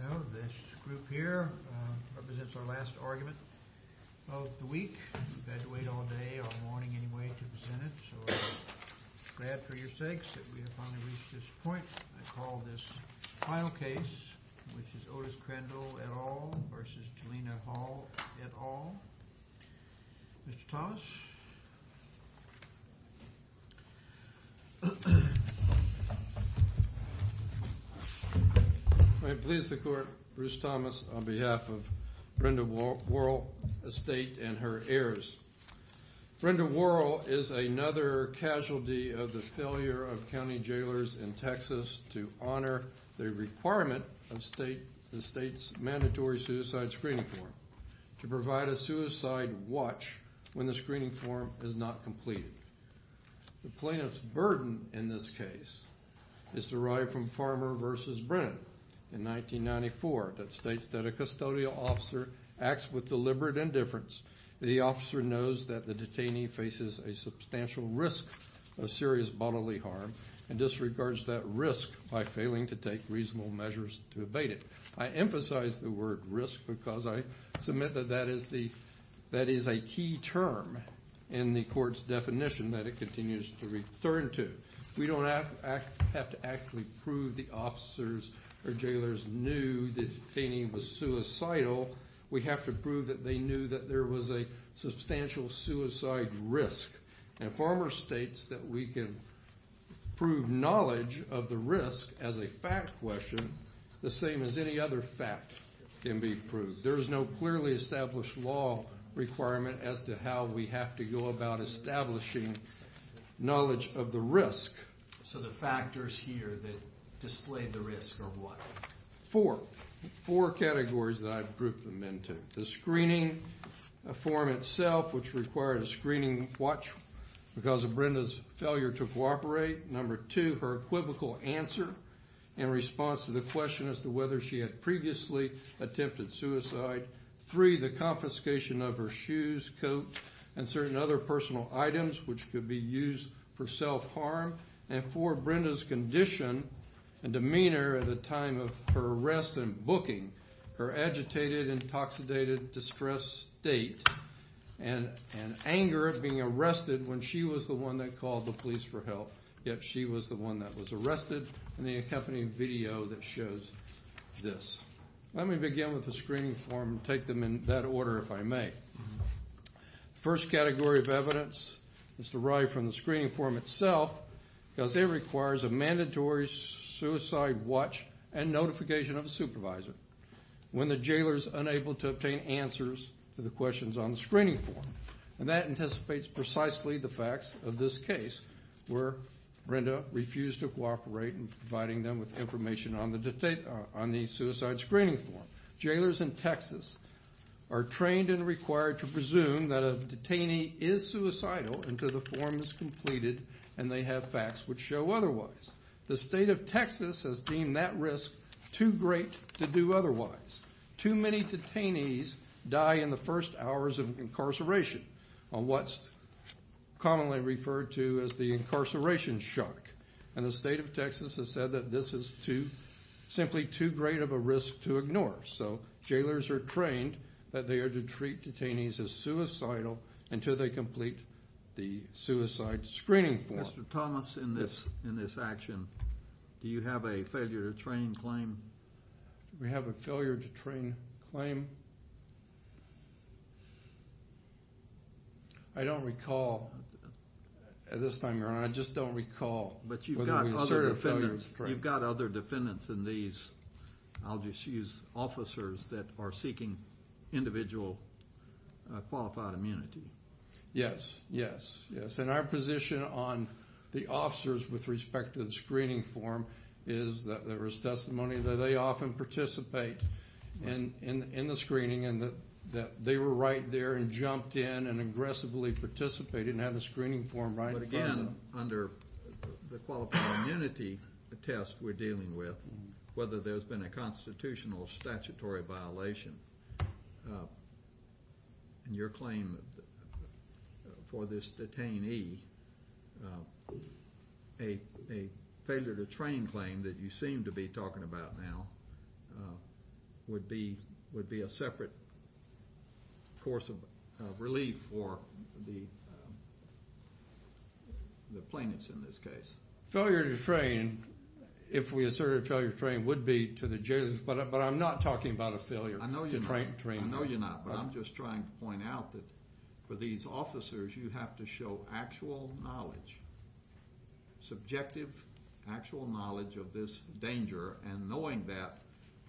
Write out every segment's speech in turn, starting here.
Now this group here represents our last argument of the week. We've had to wait all day, or morning anyway, to present it, so I'm glad for your sakes that we have finally reached this point. I call this final case, which is Otis Crandel et al. v. Jelena Hall et al. Mr. Thomas? I please the court, Bruce Thomas, on behalf of Brenda Worrell Estate and her heirs. Brenda Worrell is another casualty of the failure of county jailers in Texas to honor the requirement of the state's mandatory suicide screening form to provide a suicide watch when the screening form is not completed. The plaintiff's burden in this case is derived from Farmer v. Brennan in 1994 that states that a custodial officer acts with deliberate indifference. The officer knows that the detainee faces a substantial risk of serious bodily harm and disregards that risk by failing to take reasonable measures to abate it. I emphasize the word risk because I submit that that is a key term in the court's definition that it continues to return to. We don't have to actually prove the officers or jailers knew the detainee was suicidal. We have to prove that they knew that there was a substantial suicide risk. And Farmer states that we can prove knowledge of the risk as a fact question the same as any other fact can be proved. There is no clearly established law requirement as to how we have to go about establishing knowledge of the risk. So the factors here that display the risk are what? Four. Four categories that I've grouped them into. The screening form itself, which required a screening watch because of Brenda's failure to cooperate. Number two, her equivocal answer in response to the question as to whether she had previously attempted suicide. Three, the confiscation of her shoes, coat, and certain other personal items which could be used for self-harm. And four, Brenda's condition and demeanor at the time of her arrest and booking. Her agitated, intoxicated, distressed state and anger at being arrested when she was the one that called the police for help. Yet she was the one that was arrested in the accompanying video that shows this. Let me begin with the screening form and take them in that order if I may. The first category of evidence is derived from the screening form itself because it requires a mandatory suicide watch and notification of a supervisor when the jailer is unable to obtain answers to the questions on the screening form. And that anticipates precisely the facts of this case where Brenda refused to cooperate in providing them with information on the suicide screening form. Jailers in Texas are trained and required to presume that a detainee is suicidal until the form is completed and they have facts which show otherwise. The state of Texas has deemed that risk too great to do otherwise. Too many detainees die in the first hours of incarceration on what's commonly referred to as the incarceration shock. And the state of Texas has said that this is simply too great of a risk to ignore. So, jailers are trained that they are to treat detainees as suicidal until they complete the suicide screening form. Mr. Thomas, in this action, do you have a failure to train claim? Do we have a failure to train claim? I don't recall at this time, Your Honor. I just don't recall. But you've got other defendants. You've got other defendants in these, I'll just use officers, that are seeking individual qualified immunity. Yes, yes, yes. And our position on the officers with respect to the screening form is that there is testimony that they often participate in the screening and that they were right there and jumped in and aggressively participated and had the screening form right in front of them. But again, under the qualified immunity test we're dealing with, whether there's been a constitutional or statutory violation, your claim for this detainee, a failure to train claim that you seem to be talking about now, would be a separate course of relief for the plaintiffs in this case. Failure to train, if we assert a failure to train, would be to the jailers, but I'm not talking about a failure. I know you're not, but I'm just trying to point out that for these officers you have to show actual knowledge, subjective actual knowledge of this danger and knowing that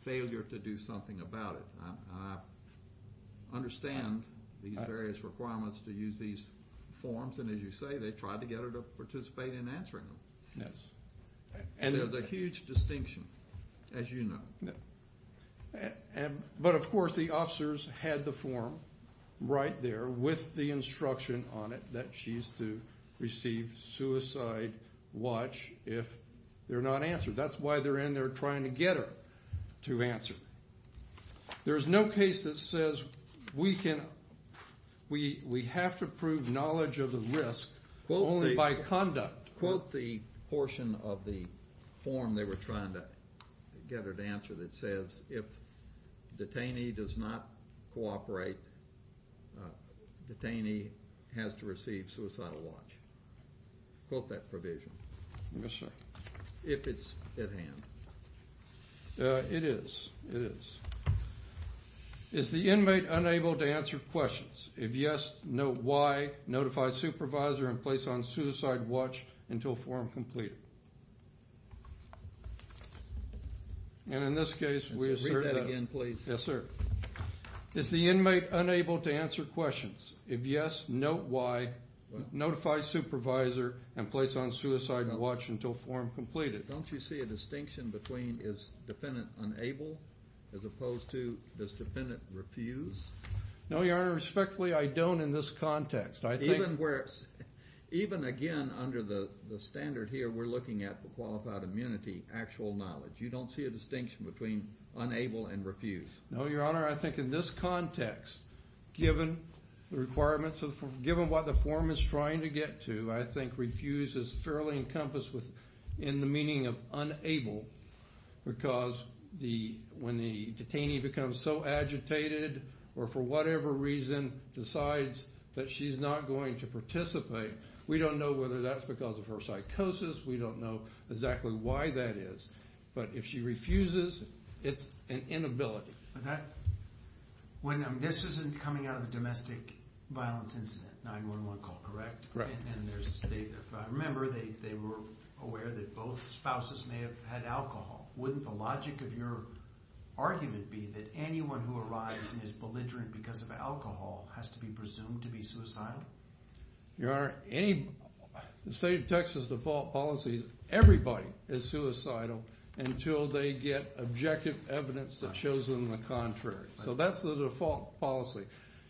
failure to do something about it. I understand these various requirements to use these forms, and as you say, they tried to get her to participate in answering them. Yes. And there's a huge distinction, as you know. But of course the officers had the form right there with the instruction on it that she's to receive suicide watch if they're not answered. That's why they're in there trying to get her to answer. There's no case that says we have to prove knowledge of the risk only by conduct. Quote the portion of the form they were trying to get her to answer that says if detainee does not cooperate, detainee has to receive suicidal watch. Quote that provision. Yes, sir. If it's at hand. It is. Is the inmate unable to answer questions? If yes, note why. Notify supervisor and place on suicide watch until form completed. And in this case we assert that. Read that again, please. Yes, sir. Is the inmate unable to answer questions? If yes, note why. Notify supervisor and place on suicide watch until form completed. Don't you see a distinction between is defendant unable as opposed to does defendant refuse? No, your honor. Respectfully, I don't in this context. Even again under the standard here, we're looking at the qualified immunity, actual knowledge. You don't see a distinction between unable and refuse. No, your honor. I think in this context, given the requirements, given what the form is trying to get to, I think refuse is fairly encompassed in the meaning of unable because when the detainee becomes so agitated or for whatever reason decides that she's not going to participate, we don't know whether that's because of her psychosis. We don't know exactly why that is. But if she refuses, it's an inability. This isn't coming out of a domestic violence incident, 911 call, correct? Correct. And remember they were aware that both spouses may have had alcohol. Wouldn't the logic of your argument be that anyone who arrives and is belligerent because of alcohol has to be presumed to be suicidal? Your honor, the state of Texas default policy is everybody is suicidal until they get objective evidence that shows them the contrary. So that's the default policy.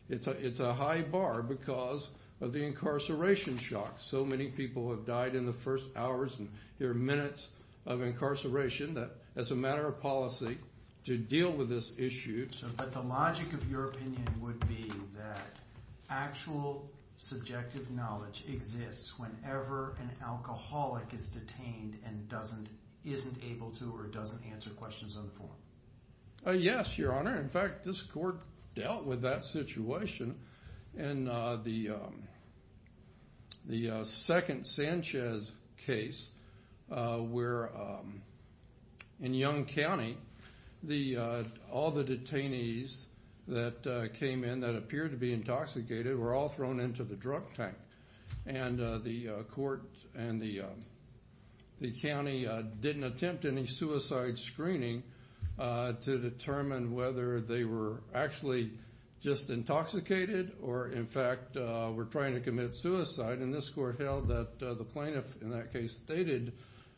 It's a high bar because of the incarceration shock. So many people have died in the first hours and here are minutes of incarceration that as a matter of policy to deal with this issue. But the logic of your opinion would be that actual subjective knowledge exists whenever an alcoholic is detained and isn't able to or doesn't answer questions on the form. Yes, your honor. In fact, this court dealt with that situation. In the second Sanchez case where in Yonge County all the detainees that came in that appeared to be intoxicated were all thrown into the drug tank. And the court and the county didn't attempt any suicide screening to determine whether they were actually just intoxicated or in fact were trying to commit suicide. And this court held that the plaintiff in that case stated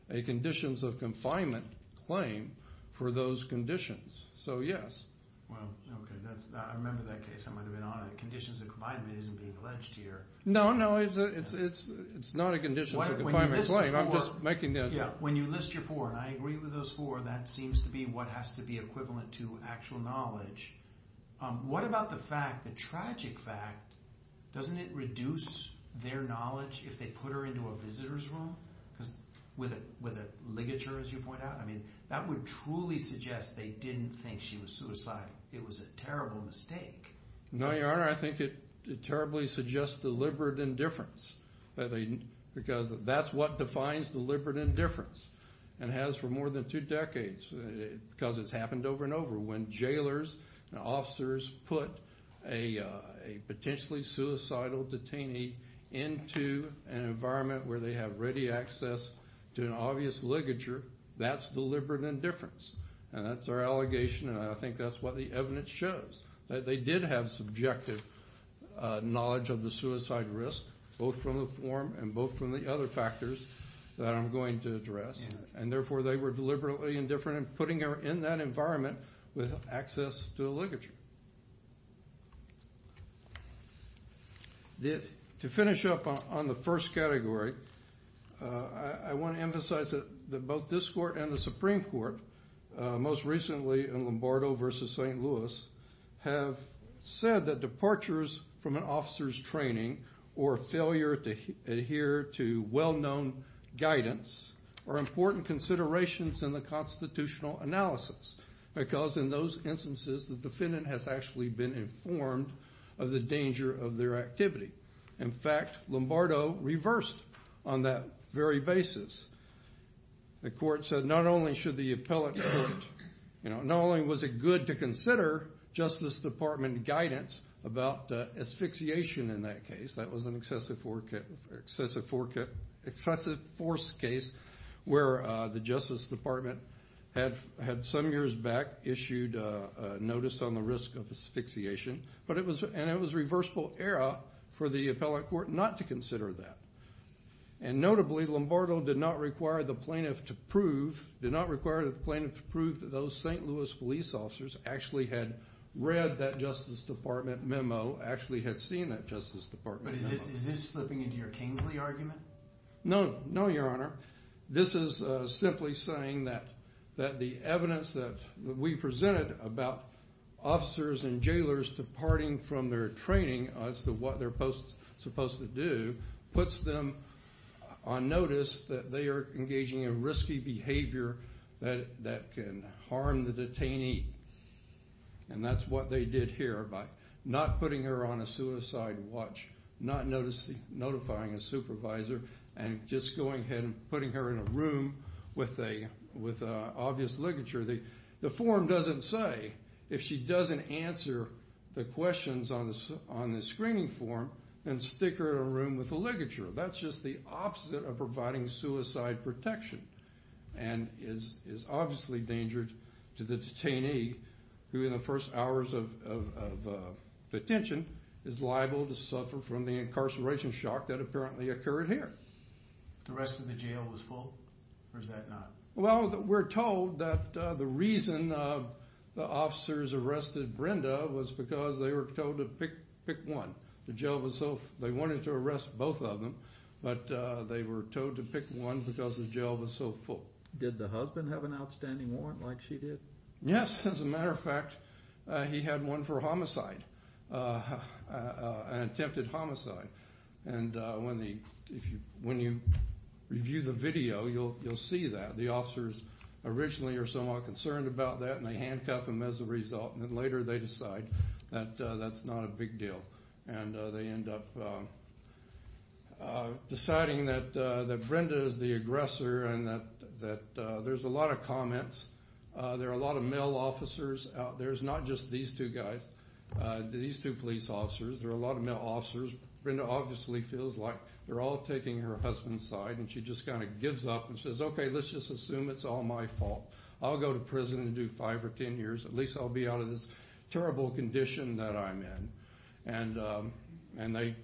a conditions of confinement claim for those conditions. So yes. Well, okay. I remember that case. I might have been on it. Conditions of confinement isn't being alleged here. No, no. It's not a conditions of confinement claim. I'm just making that up. When you list your four, and I agree with those four, that seems to be what has to be equivalent to actual knowledge. What about the fact, the tragic fact, doesn't it reduce their knowledge if they put her into a visitor's room? Because with a ligature, as you point out, I mean, that would truly suggest they didn't think she was suicidal. It was a terrible mistake. No, your honor. I think it terribly suggests deliberate indifference because that's what defines deliberate indifference and has for more than two decades because it's happened over and over. When jailers and officers put a potentially suicidal detainee into an environment where they have ready access to an obvious ligature, that's deliberate indifference, and that's our allegation, and I think that's what the evidence shows, that they did have subjective knowledge of the suicide risk, both from the form and both from the other factors that I'm going to address, and therefore they were deliberately indifferent in putting her in that environment with access to a ligature. To finish up on the first category, I want to emphasize that both this court and the Supreme Court, most recently in Lombardo v. St. Louis, have said that departures from an officer's training or failure to adhere to well-known guidance are important considerations in the constitutional analysis because in those instances the defendant has actually been informed of the danger of their activity. In fact, Lombardo reversed on that very basis. The court said not only was it good to consider Justice Department guidance about asphyxiation in that case, that was an excessive force case where the Justice Department had some years back issued a notice on the risk of asphyxiation, and it was a reversible error for the appellate court not to consider that. And notably, Lombardo did not require the plaintiff to prove that those St. Louis police officers actually had read that Justice Department memo, actually had seen that Justice Department memo. But is this slipping into your Kingsley argument? No, no, Your Honor. This is simply saying that the evidence that we presented about officers and jailers departing from their training as to what they're supposed to do puts them on notice that they are engaging in risky behavior that can harm the detainee. And that's what they did here by not putting her on a suicide watch, not notifying a supervisor, and just going ahead and putting her in a room with obvious ligature. The form doesn't say, if she doesn't answer the questions on the screening form, then stick her in a room with a ligature. That's just the opposite of providing suicide protection, and is obviously dangerous to the detainee who in the first hours of detention is liable to suffer from the incarceration shock that apparently occurred here. The rest of the jail was full, or is that not? Well, we're told that the reason the officers arrested Brenda was because they were told to pick one. They wanted to arrest both of them, but they were told to pick one because the jail was so full. Did the husband have an outstanding warrant like she did? Yes, as a matter of fact, he had one for homicide, an attempted homicide. And when you review the video, you'll see that. The officers originally are somewhat concerned about that, and they handcuff him as a result, and then later they decide that that's not a big deal, and they end up deciding that Brenda is the aggressor and that there's a lot of comments. There are a lot of male officers out there. It's not just these two guys, these two police officers. There are a lot of male officers. Brenda obviously feels like they're all taking her husband's side, and she just kind of gives up and says, okay, let's just assume it's all my fault. I'll go to prison and do five or ten years. At least I'll be out of this terrible condition that I'm in. And they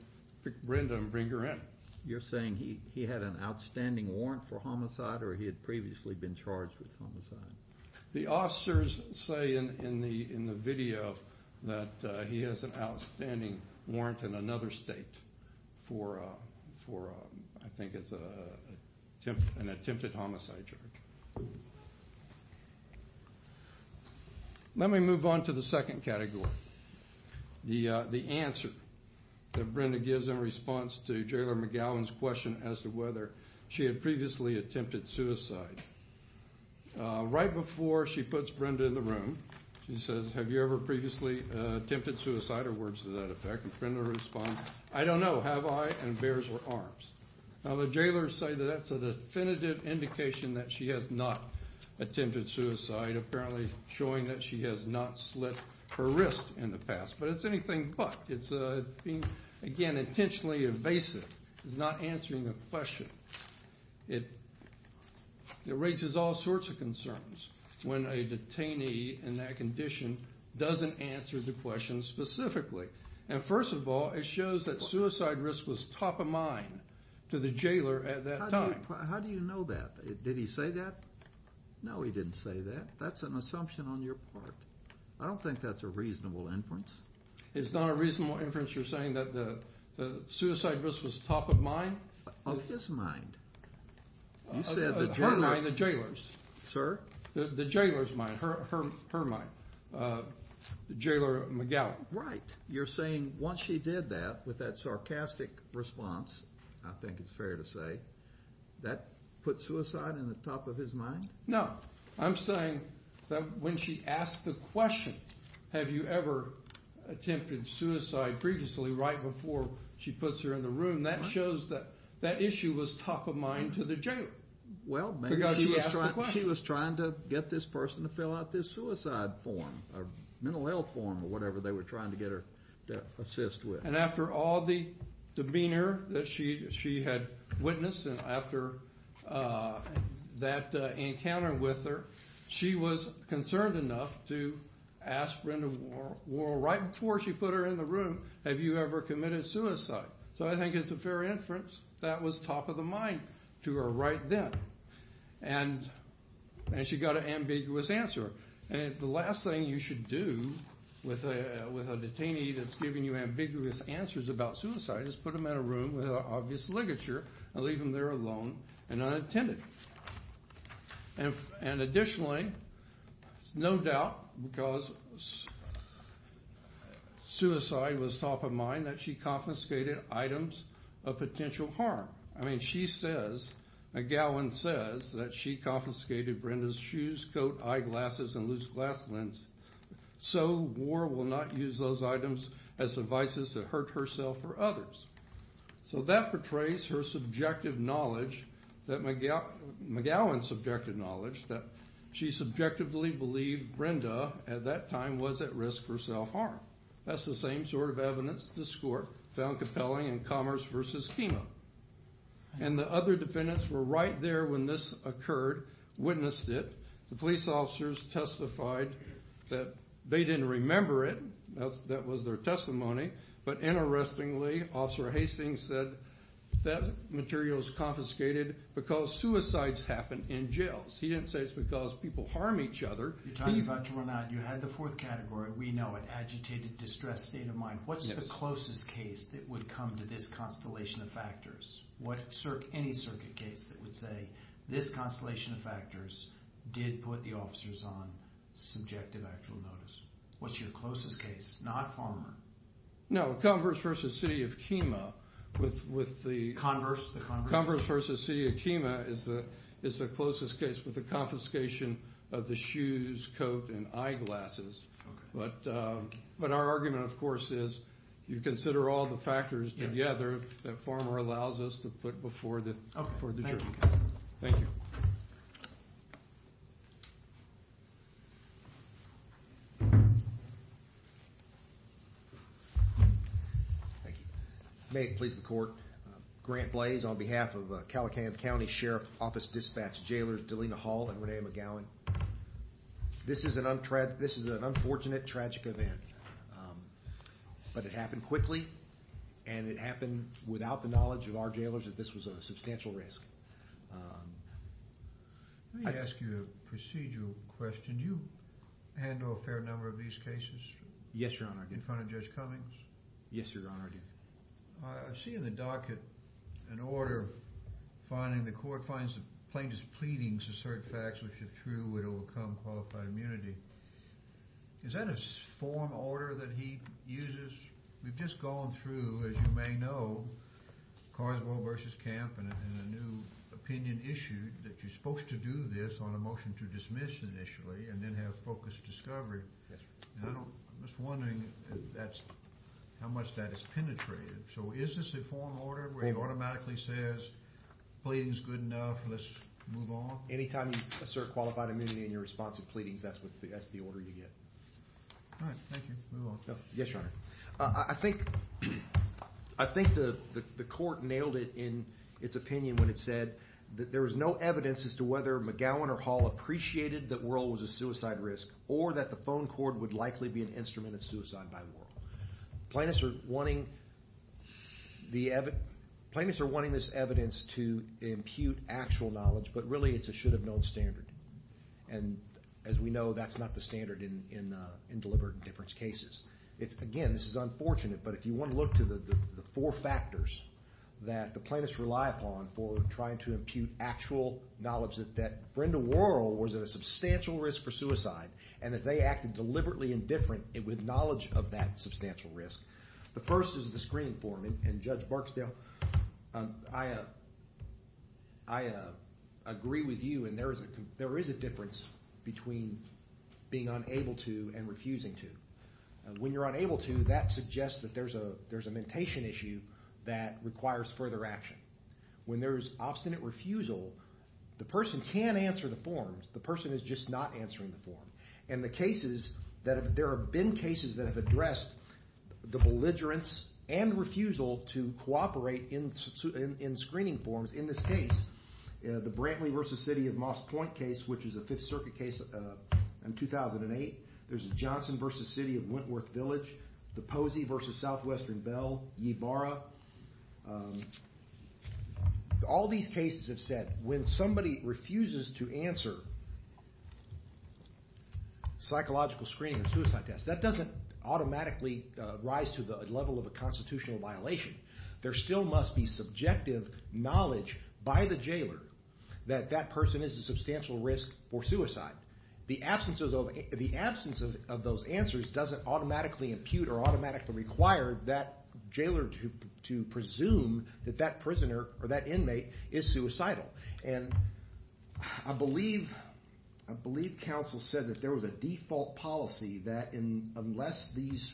pick Brenda and bring her in. You're saying he had an outstanding warrant for homicide or he had previously been charged with homicide? The officers say in the video that he has an outstanding warrant in another state for, I think it's an attempted homicide charge. Let me move on to the second category, the answer that Brenda gives in response to Jailor McGowan's question as to whether she had previously attempted suicide. Right before she puts Brenda in the room, she says, have you ever previously attempted suicide? Or words to that effect. And Brenda responds, I don't know. Have I? And bares her arms. Now the jailors say that that's a definitive indication that she has not attempted suicide, apparently showing that she has not slit her wrist in the past. But it's anything but. It's being, again, intentionally evasive. It's not answering the question. It raises all sorts of concerns when a detainee in that condition doesn't answer the question specifically. And first of all, it shows that suicide risk was top of mind to the jailor at that time. How do you know that? Did he say that? No, he didn't say that. That's an assumption on your part. I don't think that's a reasonable inference. It's not a reasonable inference you're saying that the suicide risk was top of mind? Of his mind. You said the jailor. Her mind, the jailor's. Sir? The jailor's mind, her mind. Jailor McGowan. Right. You're saying once she did that, with that sarcastic response, I think it's fair to say, that put suicide in the top of his mind? No. I'm saying that when she asked the question, have you ever attempted suicide, previously, right before she puts her in the room, that shows that that issue was top of mind to the jailor. Well, maybe. Because she asked the question. He was trying to get this person to fill out this suicide form, or mental health form, or whatever they were trying to get her to assist with. And after all the demeanor that she had witnessed, and after that encounter with her, she was concerned enough to ask Brenda Worrall, right before she put her in the room, have you ever committed suicide. So I think it's a fair inference that was top of the mind to her right then. And she got an ambiguous answer. And the last thing you should do with a detainee that's giving you ambiguous answers about suicide is put them in a room with an obvious ligature and leave them there alone and unattended. And additionally, no doubt, because suicide was top of mind, that she confiscated items of potential harm. I mean, she says, McGowan says, that she confiscated Brenda's shoes, coat, eyeglasses, and loose glass lens. So Worrall will not use those items as devices to hurt herself or others. So that portrays her subjective knowledge, McGowan's subjective knowledge, that she subjectively believed Brenda, at that time, was at risk for self-harm. That's the same sort of evidence this court found compelling in Commerce v. Kino. And the other defendants were right there when this occurred, witnessed it. The police officers testified that they didn't remember it. That was their testimony. But interestingly, Officer Hastings said that material was confiscated because suicides happen in jails. He didn't say it's because people harm each other. You're talking about to run out. You had the fourth category. We know it. Agitated, distressed state of mind. What's the closest case that would come to this constellation of factors? Any circuit case that would say this constellation of factors did put the officers on subjective actual notice? What's your closest case? Not Farmer. No, Commerce v. City of Kino. Converse? Converse v. City of Kino is the closest case with the confiscation of the shoes, coat, and eyeglasses. But our argument, of course, is you consider all the factors together that Farmer allows us to put before the jury. Thank you. Thank you. May it please the court, Grant Blaze on behalf of Calicam County Sheriff Office Dispatch Jailers Delina Hall and Renee McGowan. This is an unfortunate, tragic event. But it happened quickly, and it happened without the knowledge of our jailers that this was a substantial risk. Let me ask you a procedural question. Did you handle a fair number of these cases? Yes, Your Honor. In front of Judge Cummings? Yes, Your Honor. I see in the docket an order finding the court finds the plaintiff's pleadings assert facts which if true would overcome qualified immunity. Is that a form, order that he uses? We've just gone through, as you may know, Carlsville v. Camp and a new opinion issued that you're supposed to do this on a motion to dismiss initially and then have focused discovery. I'm just wondering how much that has penetrated. So is this a form, order where he automatically says, pleading's good enough, let's move on? Anytime you assert qualified immunity in your response to pleadings, that's the order you get. All right. Thank you. Move on. Yes, Your Honor. I think the court nailed it in its opinion when it said that there was no evidence as to whether McGowan or Hall appreciated that Worrell was a suicide risk or that the phone cord would likely be an instrument of suicide by Worrell. Plaintiffs are wanting this evidence to impute actual knowledge, but really it's a should-have-known standard. As we know, that's not the standard in deliberate indifference cases. Again, this is unfortunate, but if you want to look to the four factors that the plaintiffs rely upon for trying to impute actual knowledge that Brenda Worrell was at a substantial risk for suicide and that they acted deliberately indifferent with knowledge of that substantial risk, the first is the screening form. And Judge Barksdale, I agree with you, and there is a difference between being unable to and refusing to. When you're unable to, that suggests that there's a mentation issue that requires further action. When there's obstinate refusal, the person can answer the forms, the person is just not answering the form. There have been cases that have addressed the belligerence and refusal to cooperate in screening forms. In this case, the Brantley v. City of Moss Point case, which was a Fifth Circuit case in 2008, there's a Johnson v. City of Wentworth Village, the Posey v. Southwestern Bell, Ybarra. All these cases have said when somebody refuses to answer psychological screening or suicide tests, that doesn't automatically rise to the level of a constitutional violation. There still must be subjective knowledge by the jailer that that person is a substantial risk for suicide. The absence of those answers doesn't automatically impute or automatically require that jailer to presume that that prisoner or that inmate is suicidal. And I believe counsel said that there was a default policy that unless these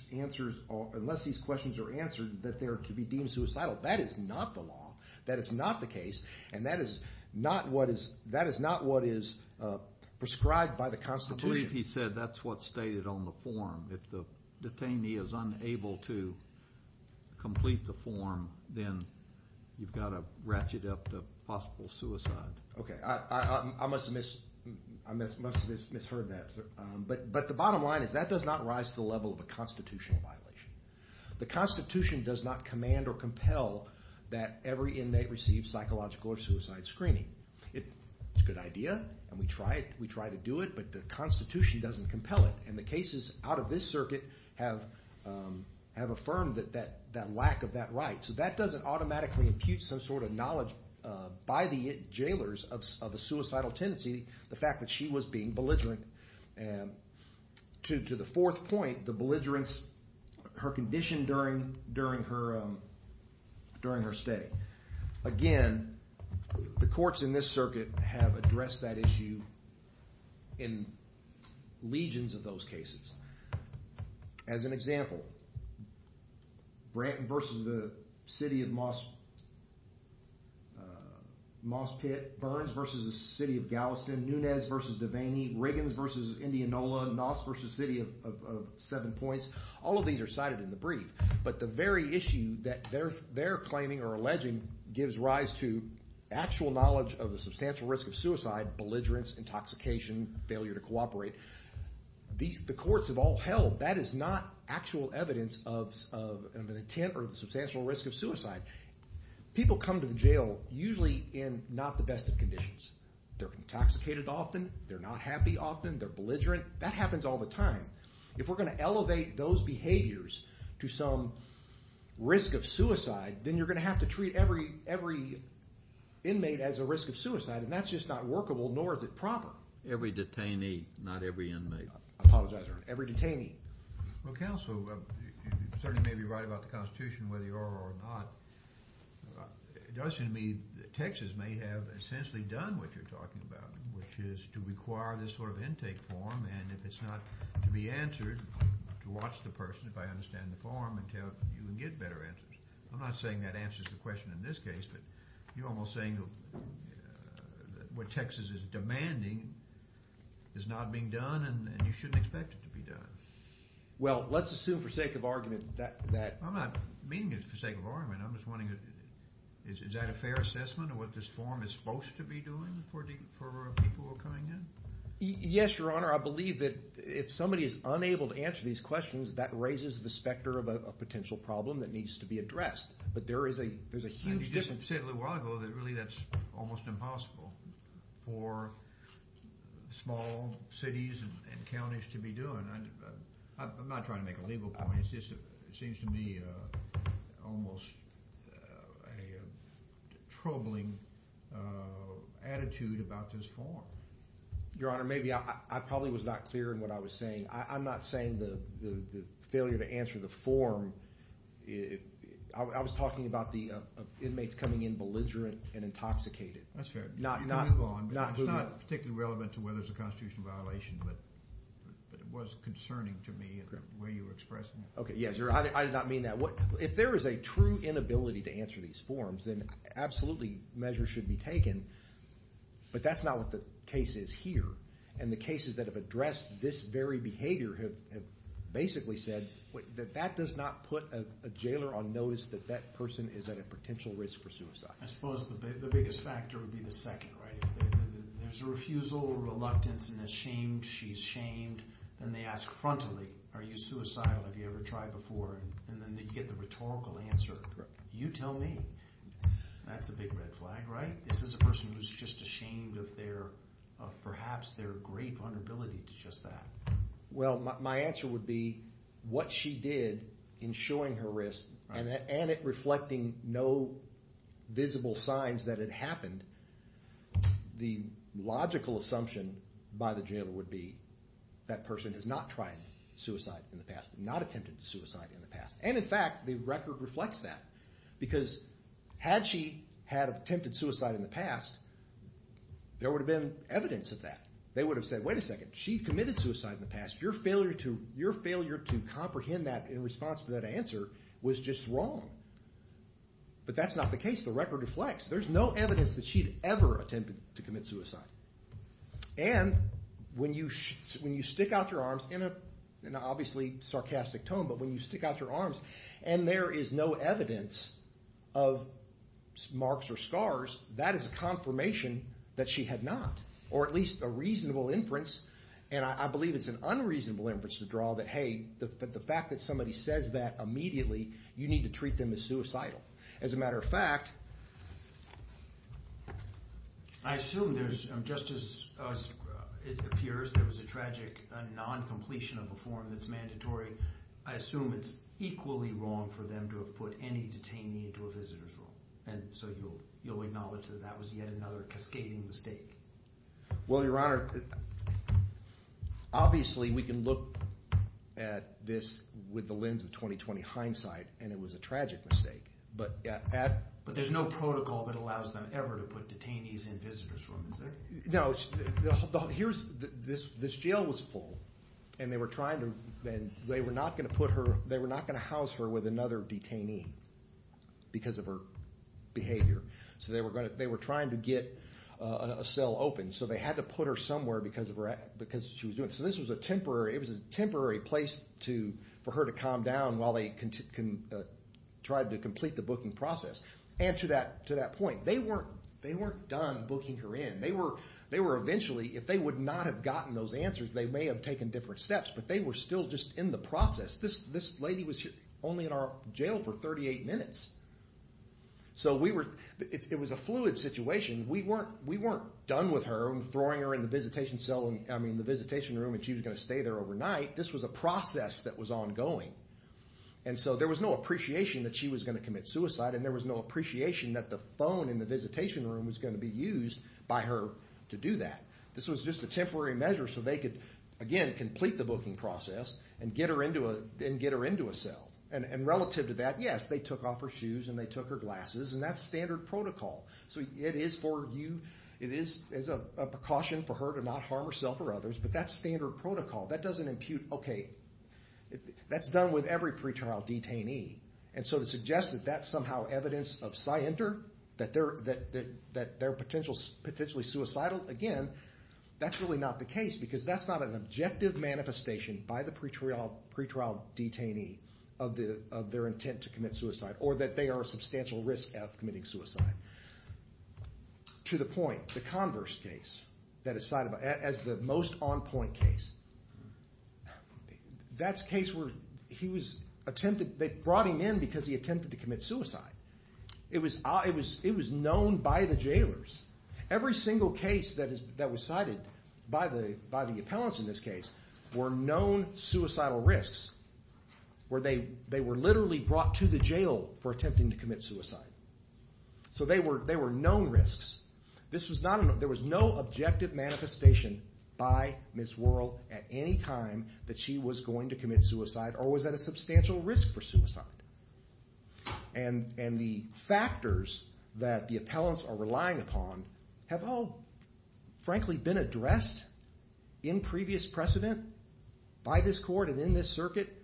questions are answered, that they could be deemed suicidal. That is not the law, that is not the case, and that is not what is prescribed by the Constitution. I believe he said that's what's stated on the form. If the detainee is unable to complete the form, then you've got to ratchet up the possible suicide. Okay, I must have misheard that. But the bottom line is that does not rise to the level of a constitutional violation. The Constitution does not command or compel that every inmate receive psychological or suicide screening. It's a good idea, and we try to do it, but the Constitution doesn't compel it. And the cases out of this circuit have affirmed that lack of that right. So that doesn't automatically impute some sort of knowledge by the jailers of a suicidal tendency, the fact that she was being belligerent. To the fourth point, the belligerence, her condition during her stay. Again, the courts in this circuit have addressed that issue in legions of those cases. As an example, Branton v. the City of Moss Pit, Burns v. the City of Galveston, Nunez v. Devaney, Riggins v. Indianola, Noss v. City of Seven Points, all of these are cited in the brief. But the very issue that they're claiming or alleging gives rise to actual knowledge of the substantial risk of suicide, belligerence, intoxication, failure to cooperate. The courts have all held that is not actual evidence of an intent or substantial risk of suicide. People come to the jail usually in not the best of conditions. They're intoxicated often, they're not happy often, they're belligerent. That happens all the time. If we're going to elevate those behaviors to some risk of suicide, then you're going to have to treat every inmate as a risk of suicide, and that's just not workable, nor is it proper. Not every detainee, not every inmate. I apologize, every detainee. Well, counsel, you certainly may be right about the Constitution, whether you are or not. It does seem to me that Texas may have essentially done what you're talking about, which is to require this sort of intake form, and if it's not to be answered, to watch the person, if I understand the form, until you can get better answers. I'm not saying that answers the question in this case, but you're almost saying that what Texas is demanding is not being done and you shouldn't expect it to be done. Well, let's assume for sake of argument that— I'm not meaning it for sake of argument. I'm just wondering, is that a fair assessment of what this form is supposed to be doing for people who are coming in? Yes, Your Honor. I believe that if somebody is unable to answer these questions, that raises the specter of a potential problem that needs to be addressed. But there is a huge— You just said a little while ago that really that's almost impossible for small cities and counties to be doing. I'm not trying to make a legal point. It just seems to me almost a troubling attitude about this form. Your Honor, maybe I probably was not clear in what I was saying. I'm not saying the failure to answer the form— I was talking about the inmates coming in belligerent and intoxicated. That's fair. You can move on. It's not particularly relevant to whether it's a constitutional violation, but it was concerning to me in the way you were expressing it. Okay, yes, Your Honor. I did not mean that. If there is a true inability to answer these forms, then absolutely measures should be taken, but that's not what the case is here. The cases that have addressed this very behavior have basically said that that does not put a jailer on notice that that person is at a potential risk for suicide. I suppose the biggest factor would be the second, right? If there's a refusal or reluctance and a shame, she's shamed, then they ask frontally, are you suicidal? Have you ever tried before? And then they get the rhetorical answer, you tell me. That's a big red flag, right? This is a person who's just ashamed of perhaps their great vulnerability to just that. Well, my answer would be what she did in showing her risk and it reflecting no visible signs that it happened, the logical assumption by the jailer would be that person has not tried suicide in the past, not attempted suicide in the past. And, in fact, the record reflects that because had she had attempted suicide in the past, there would have been evidence of that. They would have said, wait a second, she committed suicide in the past. Your failure to comprehend that in response to that answer was just wrong. But that's not the case. The record reflects there's no evidence that she'd ever attempted to commit suicide. And when you stick out your arms in an obviously sarcastic tone, but when you stick out your arms and there is no evidence of marks or scars, that is a confirmation that she had not or at least a reasonable inference, and I believe it's an unreasonable inference to draw, that, hey, the fact that somebody says that immediately, you need to treat them as suicidal. As a matter of fact, I assume there's, just as it appears, there was a tragic non-completion of a form that's mandatory, I assume it's equally wrong for them to have put any detainee into a visitor's room. And so you'll acknowledge that that was yet another cascading mistake. Well, Your Honor, obviously we can look at this with the lens of 20-20 hindsight, and it was a tragic mistake. But there's no protocol that allows them ever to put detainees in visitor's rooms. No, this jail was full, and they were not going to house her with another detainee because of her behavior. So they were trying to get a cell open, so they had to put her somewhere because she was doing it. So this was a temporary place for her to calm down while they tried to complete the booking process. And to that point, they weren't done booking her in. They were eventually, if they would not have gotten those answers, they may have taken different steps, but they were still just in the process. This lady was only in our jail for 38 minutes. So it was a fluid situation. We weren't done with her and throwing her in the visitation room and she was going to stay there overnight. This was a process that was ongoing. And so there was no appreciation that she was going to commit suicide, and there was no appreciation that the phone in the visitation room was going to be used by her to do that. This was just a temporary measure so they could, again, complete the booking process and get her into a cell. And relative to that, yes, they took off her shoes and they took her glasses, and that's standard protocol. So it is a precaution for her to not harm herself or others, but that's standard protocol. That doesn't impute, okay, that's done with every pretrial detainee. And so to suggest that that's somehow evidence of scienter, that they're potentially suicidal, again, that's really not the case because that's not an objective manifestation by the pretrial detainee of their intent to commit suicide or that they are a substantial risk of committing suicide. To the point, the Converse case as the most on-point case, that's a case where they brought him in because he attempted to commit suicide. It was known by the jailers. Every single case that was cited by the appellants in this case were known suicidal risks where they were literally brought to the jail for attempting to commit suicide. So they were known risks. There was no objective manifestation by Ms. Worrell at any time that she was going to commit suicide or was at a substantial risk for suicide. And the factors that the appellants are relying upon have all, frankly, been addressed in previous precedent by this court and in this circuit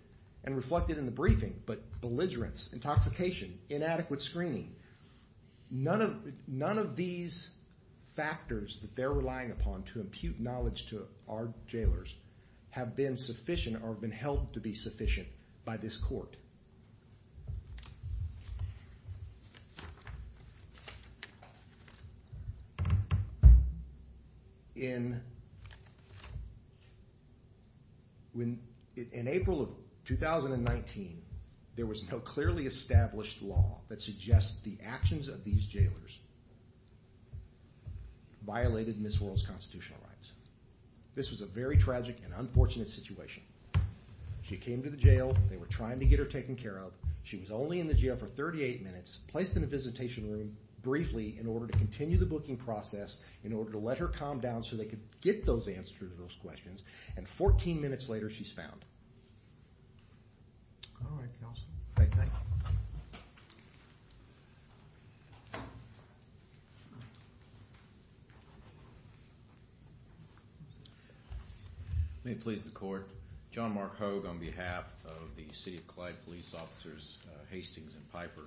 and reflected in the briefing, but belligerence, intoxication, inadequate screening, none of these factors that they're relying upon to impute knowledge to our jailers have been sufficient or have been held to be sufficient by this court. In April of 2019, there was no clearly established law that suggests the actions of these jailers violated Ms. Worrell's constitutional rights. This was a very tragic and unfortunate situation. She came to the jail. They were trying to get her taken care of. She was only in the jail for 38 minutes, placed in a visitation room briefly in order to continue the booking process in order to let her calm down so they could get those answers to those questions. And 14 minutes later, she's found. Let me please the court. John Mark Hogue on behalf of the City of Clyde Police Officers Hastings and Piper.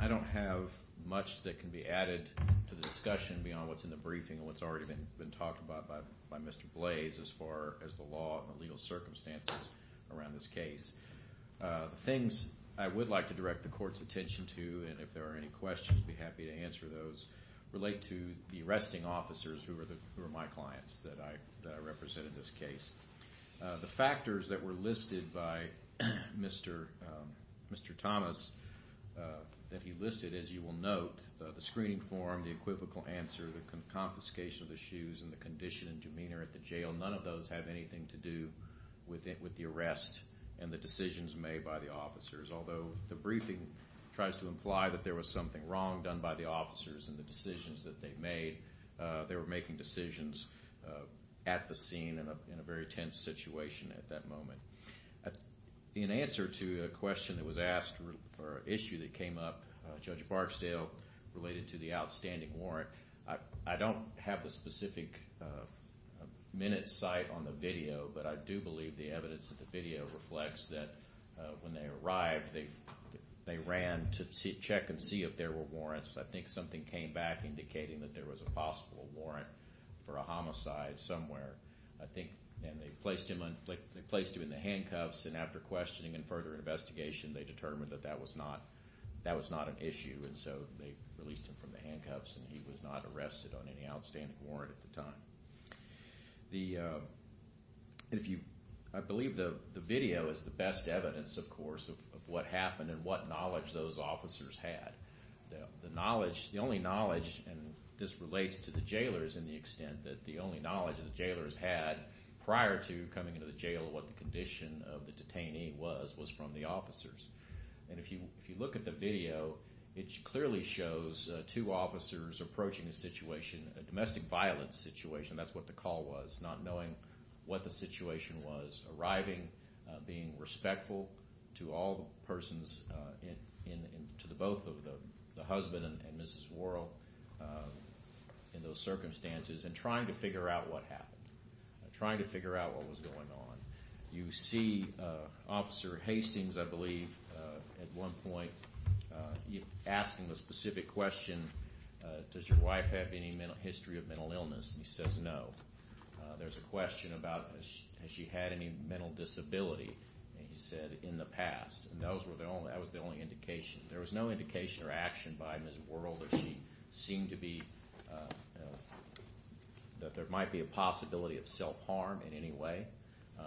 I don't have much that can be added to the discussion beyond what's in the briefing and what's already been talked about by Mr. Blaze as far as the law and the legal circumstances around this case. The things I would like to direct the court's attention to, and if there are any questions, I'd be happy to answer those, relate to the arresting officers who are my clients that I represent in this case. The factors that were listed by Mr. Thomas, that he listed, as you will note, the screening form, the equivocal answer, the confiscation of the shoes, and the condition and demeanor at the jail, none of those have anything to do with the arrest and the decisions made by the officers. Although the briefing tries to imply that there was something wrong done by the officers and the decisions that they made, they were making decisions at the scene in a very tense situation at that moment. In answer to a question that was asked, or an issue that came up, Judge Barksdale, related to the outstanding warrant, I don't have the specific minute's sight on the video, but I do believe the evidence of the video reflects that when they arrived, they ran to check and see if there were warrants. I think something came back indicating that there was a possible warrant for a homicide somewhere. I think they placed him in the handcuffs, and after questioning and further investigation, they determined that that was not an issue, and so they released him from the handcuffs, and he was not arrested on any outstanding warrant at the time. I believe the video is the best evidence, of course, of what happened and what knowledge those officers had. The knowledge, the only knowledge, and this relates to the jailers in the extent that the only knowledge the jailers had prior to coming into the jail, what the condition of the detainee was, was from the officers. And if you look at the video, it clearly shows two officers approaching a situation, a domestic violence situation, that's what the call was, not knowing what the situation was, arriving, being respectful to all persons, to both the husband and Mrs. Worrell in those circumstances, and trying to figure out what happened, trying to figure out what was going on. You see Officer Hastings, I believe, at one point, asking the specific question, does your wife have any history of mental illness, and he says no. There's a question about has she had any mental disability, and he said in the past, and that was the only indication. There was no indication or action by Mrs. Worrell that she seemed to be, that there might be a possibility of self-harm in any way.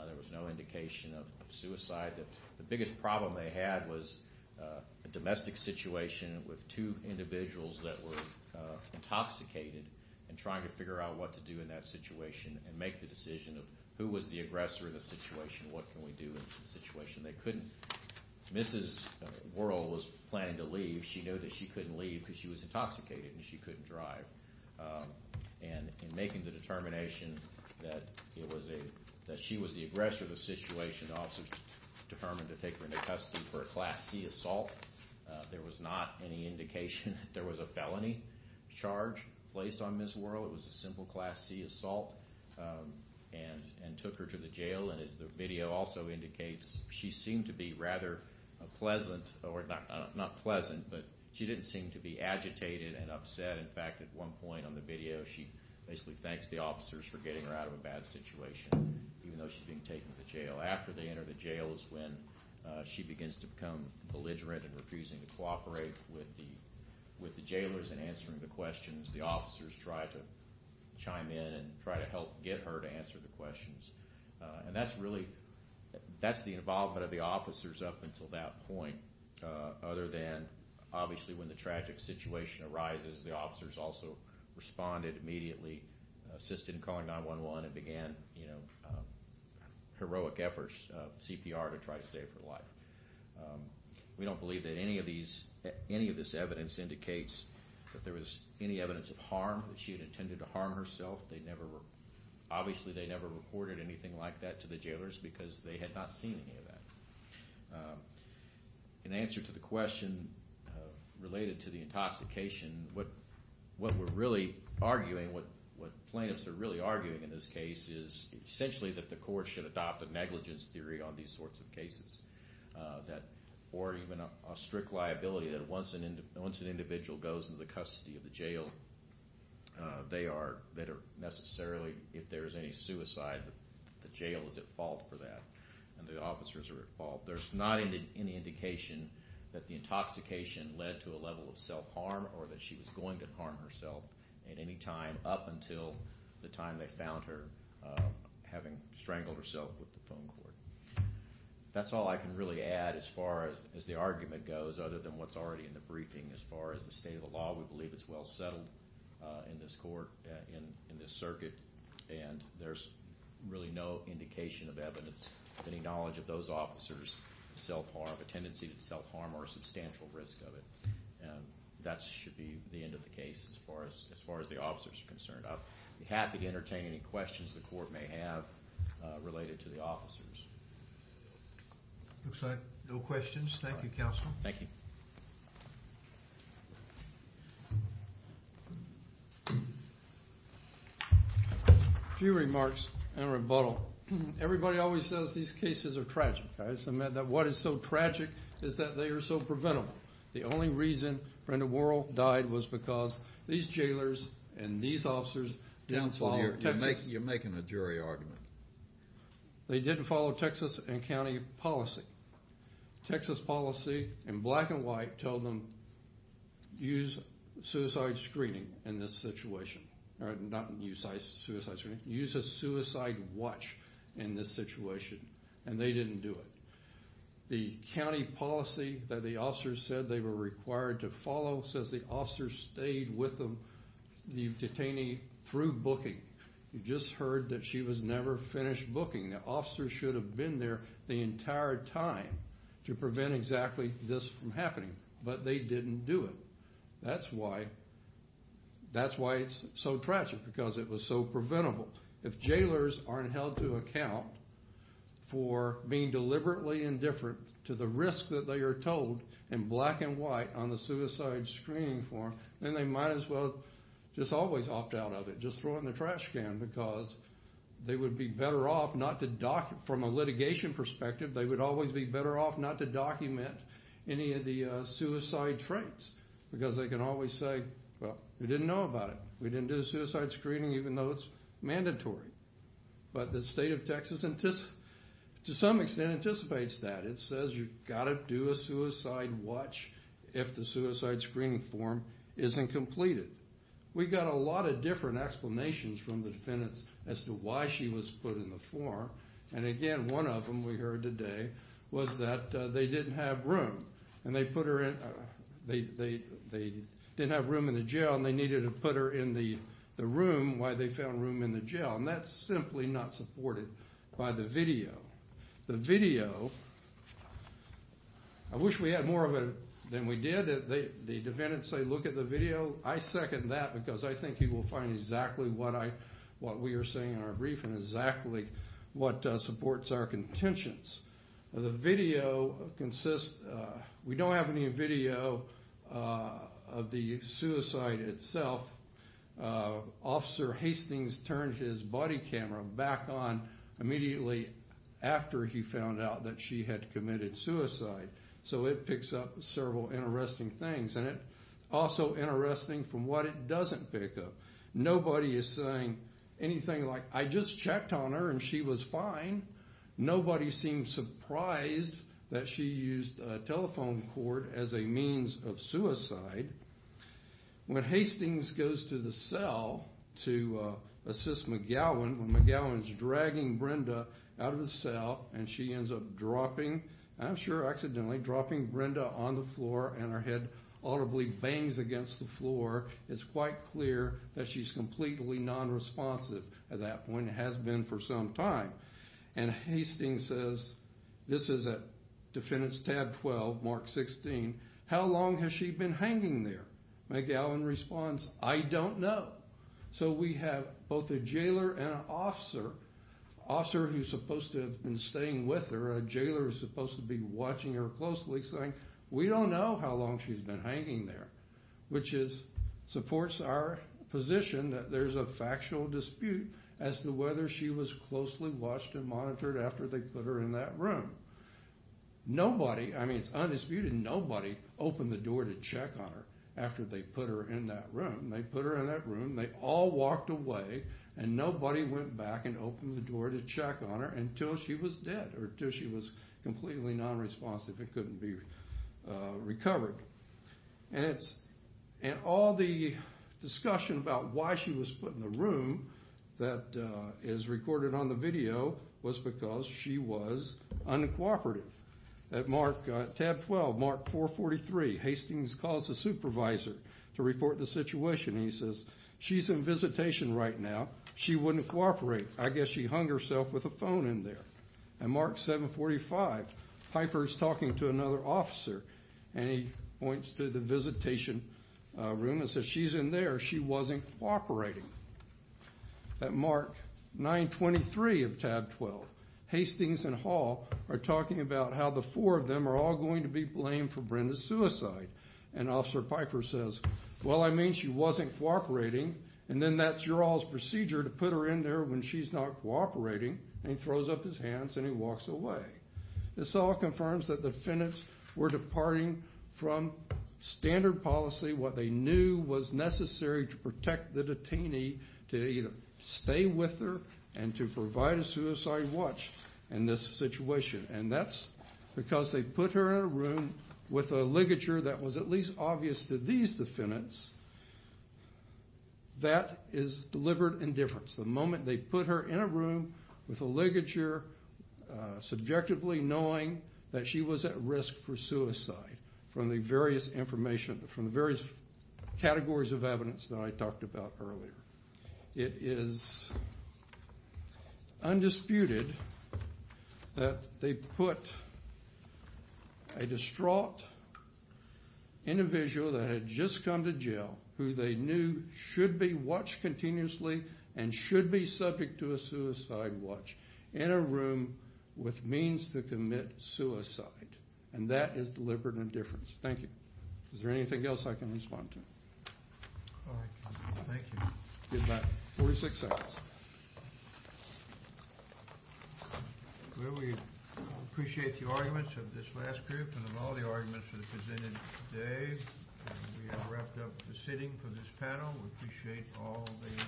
There was no indication of suicide. The biggest problem they had was a domestic situation with two individuals that were intoxicated, and trying to figure out what to do in that situation and make the decision of who was the aggressor in the situation, what can we do in a situation they couldn't. Mrs. Worrell was planning to leave. She knew that she couldn't leave because she was intoxicated, and she couldn't drive. And in making the determination that she was the aggressor of the situation, officers determined to take her into custody for a Class C assault. There was not any indication that there was a felony charge placed on Mrs. Worrell. It was a simple Class C assault and took her to the jail. And as the video also indicates, she seemed to be rather pleasant, or not pleasant, but she didn't seem to be agitated and upset. In fact, at one point on the video, she basically thanks the officers for getting her out of a bad situation, even though she's being taken to jail. After they enter the jail is when she begins to become belligerent and refusing to cooperate with the jailers in answering the questions. The officers try to chime in and try to help get her to answer the questions. And that's really the involvement of the officers up until that point, other than obviously when the tragic situation arises, the officers also responded immediately, assisted in calling 911, and began heroic efforts of CPR to try to save her life. We don't believe that any of this evidence indicates that there was any evidence of harm, that she had intended to harm herself. Obviously they never reported anything like that to the jailers because they had not seen any of that. In answer to the question related to the intoxication, what we're really arguing, what plaintiffs are really arguing in this case, is essentially that the court should adopt a negligence theory on these sorts of cases or even a strict liability that once an individual goes into the custody of the jail, they are necessarily, if there is any suicide, the jail is at fault for that and the officers are at fault. There's not any indication that the intoxication led to a level of self-harm or that she was going to harm herself at any time up until the time they found her having strangled herself with the phone cord. That's all I can really add as far as the argument goes, other than what's already in the briefing as far as the state of the law. We believe it's well settled in this court, in this circuit, and there's really no indication of evidence of any knowledge of those officers' self-harm, a tendency to self-harm or a substantial risk of it. That should be the end of the case as far as the officers are concerned. I'd be happy to entertain any questions the court may have related to the officers. Looks like no questions. Thank you, Counsel. Thank you. A few remarks in rebuttal. Everybody always says these cases are tragic. What is so tragic is that they are so preventable. The only reason Brenda Worrell died was because these jailers and these officers didn't follow Texas... Counsel, you're making a jury argument. They didn't follow Texas and county policy. Texas policy, in black and white, told them use suicide screening in this situation. Not use suicide screening. Use a suicide watch in this situation, and they didn't do it. The county policy that the officers said they were required to follow says the officers stayed with the detainee through booking. You just heard that she was never finished booking. The officers should have been there the entire time to prevent exactly this from happening, but they didn't do it. That's why it's so tragic, because it was so preventable. If jailers aren't held to account for being deliberately indifferent to the risk that they are told in black and white on the suicide screening form, then they might as well just always opt out of it, just throw it in the trash can, because they would be better off not to document, from a litigation perspective, they would always be better off not to document any of the suicide traits, because they can always say, well, we didn't know about it. We didn't do the suicide screening, even though it's mandatory. But the state of Texas, to some extent, anticipates that. It says you've got to do a suicide watch if the suicide screening form isn't completed. We got a lot of different explanations from the defendants as to why she was put in the form, and again, one of them, we heard today, was that they didn't have room. They didn't have room in the jail, and they needed to put her in the room while they found room in the jail, and that's simply not supported by the video. The video, I wish we had more of it than we did. The defendants say, look at the video. I second that, because I think you will find exactly what we are saying in our brief and exactly what supports our contentions. The video consists, we don't have any video of the suicide itself. Officer Hastings turned his body camera back on immediately after he found out that she had committed suicide, so it picks up several interesting things, and it's also interesting from what it doesn't pick up. Nobody is saying anything like, I just checked on her, and she was fine. Nobody seemed surprised that she used a telephone cord as a means of suicide. When Hastings goes to the cell to assist McGowan, when McGowan is dragging Brenda out of the cell, and she ends up dropping, I'm sure accidentally, dropping Brenda on the floor, and her head audibly bangs against the floor, it's quite clear that she's completely nonresponsive at that point, and has been for some time. And Hastings says, this is at defendants tab 12, mark 16, how long has she been hanging there? McGowan responds, I don't know. So we have both a jailer and an officer, an officer who's supposed to have been staying with her, a jailer who's supposed to be watching her closely saying, we don't know how long she's been hanging there, which supports our position that there's a factual dispute as to whether she was closely watched and monitored after they put her in that room. Nobody, I mean it's undisputed, nobody opened the door to check on her after they put her in that room. They put her in that room, they all walked away, and nobody went back and opened the door to check on her until she was dead, or until she was completely nonresponsive and couldn't be recovered. And all the discussion about why she was put in the room that is recorded on the video was because she was uncooperative. At tab 12, mark 443, Hastings calls the supervisor to report the situation, and he says, she's in visitation right now, she wouldn't cooperate. I guess she hung herself with a phone in there. At mark 745, Piper's talking to another officer, and he points to the visitation room and says, she's in there, she wasn't cooperating. At mark 923 of tab 12, Hastings and Hall are talking about how the four of them are all going to be blamed for Brenda's suicide. And Officer Piper says, well, I mean she wasn't cooperating, and then that's your all's procedure to put her in there when she's not cooperating, and he throws up his hands and he walks away. This all confirms that the defendants were departing from standard policy, what they knew was necessary to protect the detainee to either stay with her and to provide a suicide watch in this situation. And that's because they put her in a room with a ligature that was at least obvious to these defendants that is deliberate indifference. The moment they put her in a room with a ligature subjectively knowing that she was at risk for suicide from the various categories of evidence that I talked about earlier. It is undisputed that they put a distraught individual that had just come to jail who they knew should be watched continuously and should be subject to a suicide watch in a room with means to commit suicide. And that is deliberate indifference. Thank you. Is there anything else I can respond to? All right. Thank you. Good night. 46 seconds. Well, we appreciate the arguments of this last group and of all the arguments that were presented today. We are wrapped up for sitting for this panel. We appreciate all the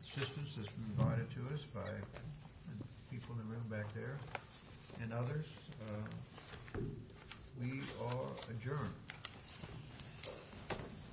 assistance that's been provided to us by the people in the room back there and others. We are adjourned.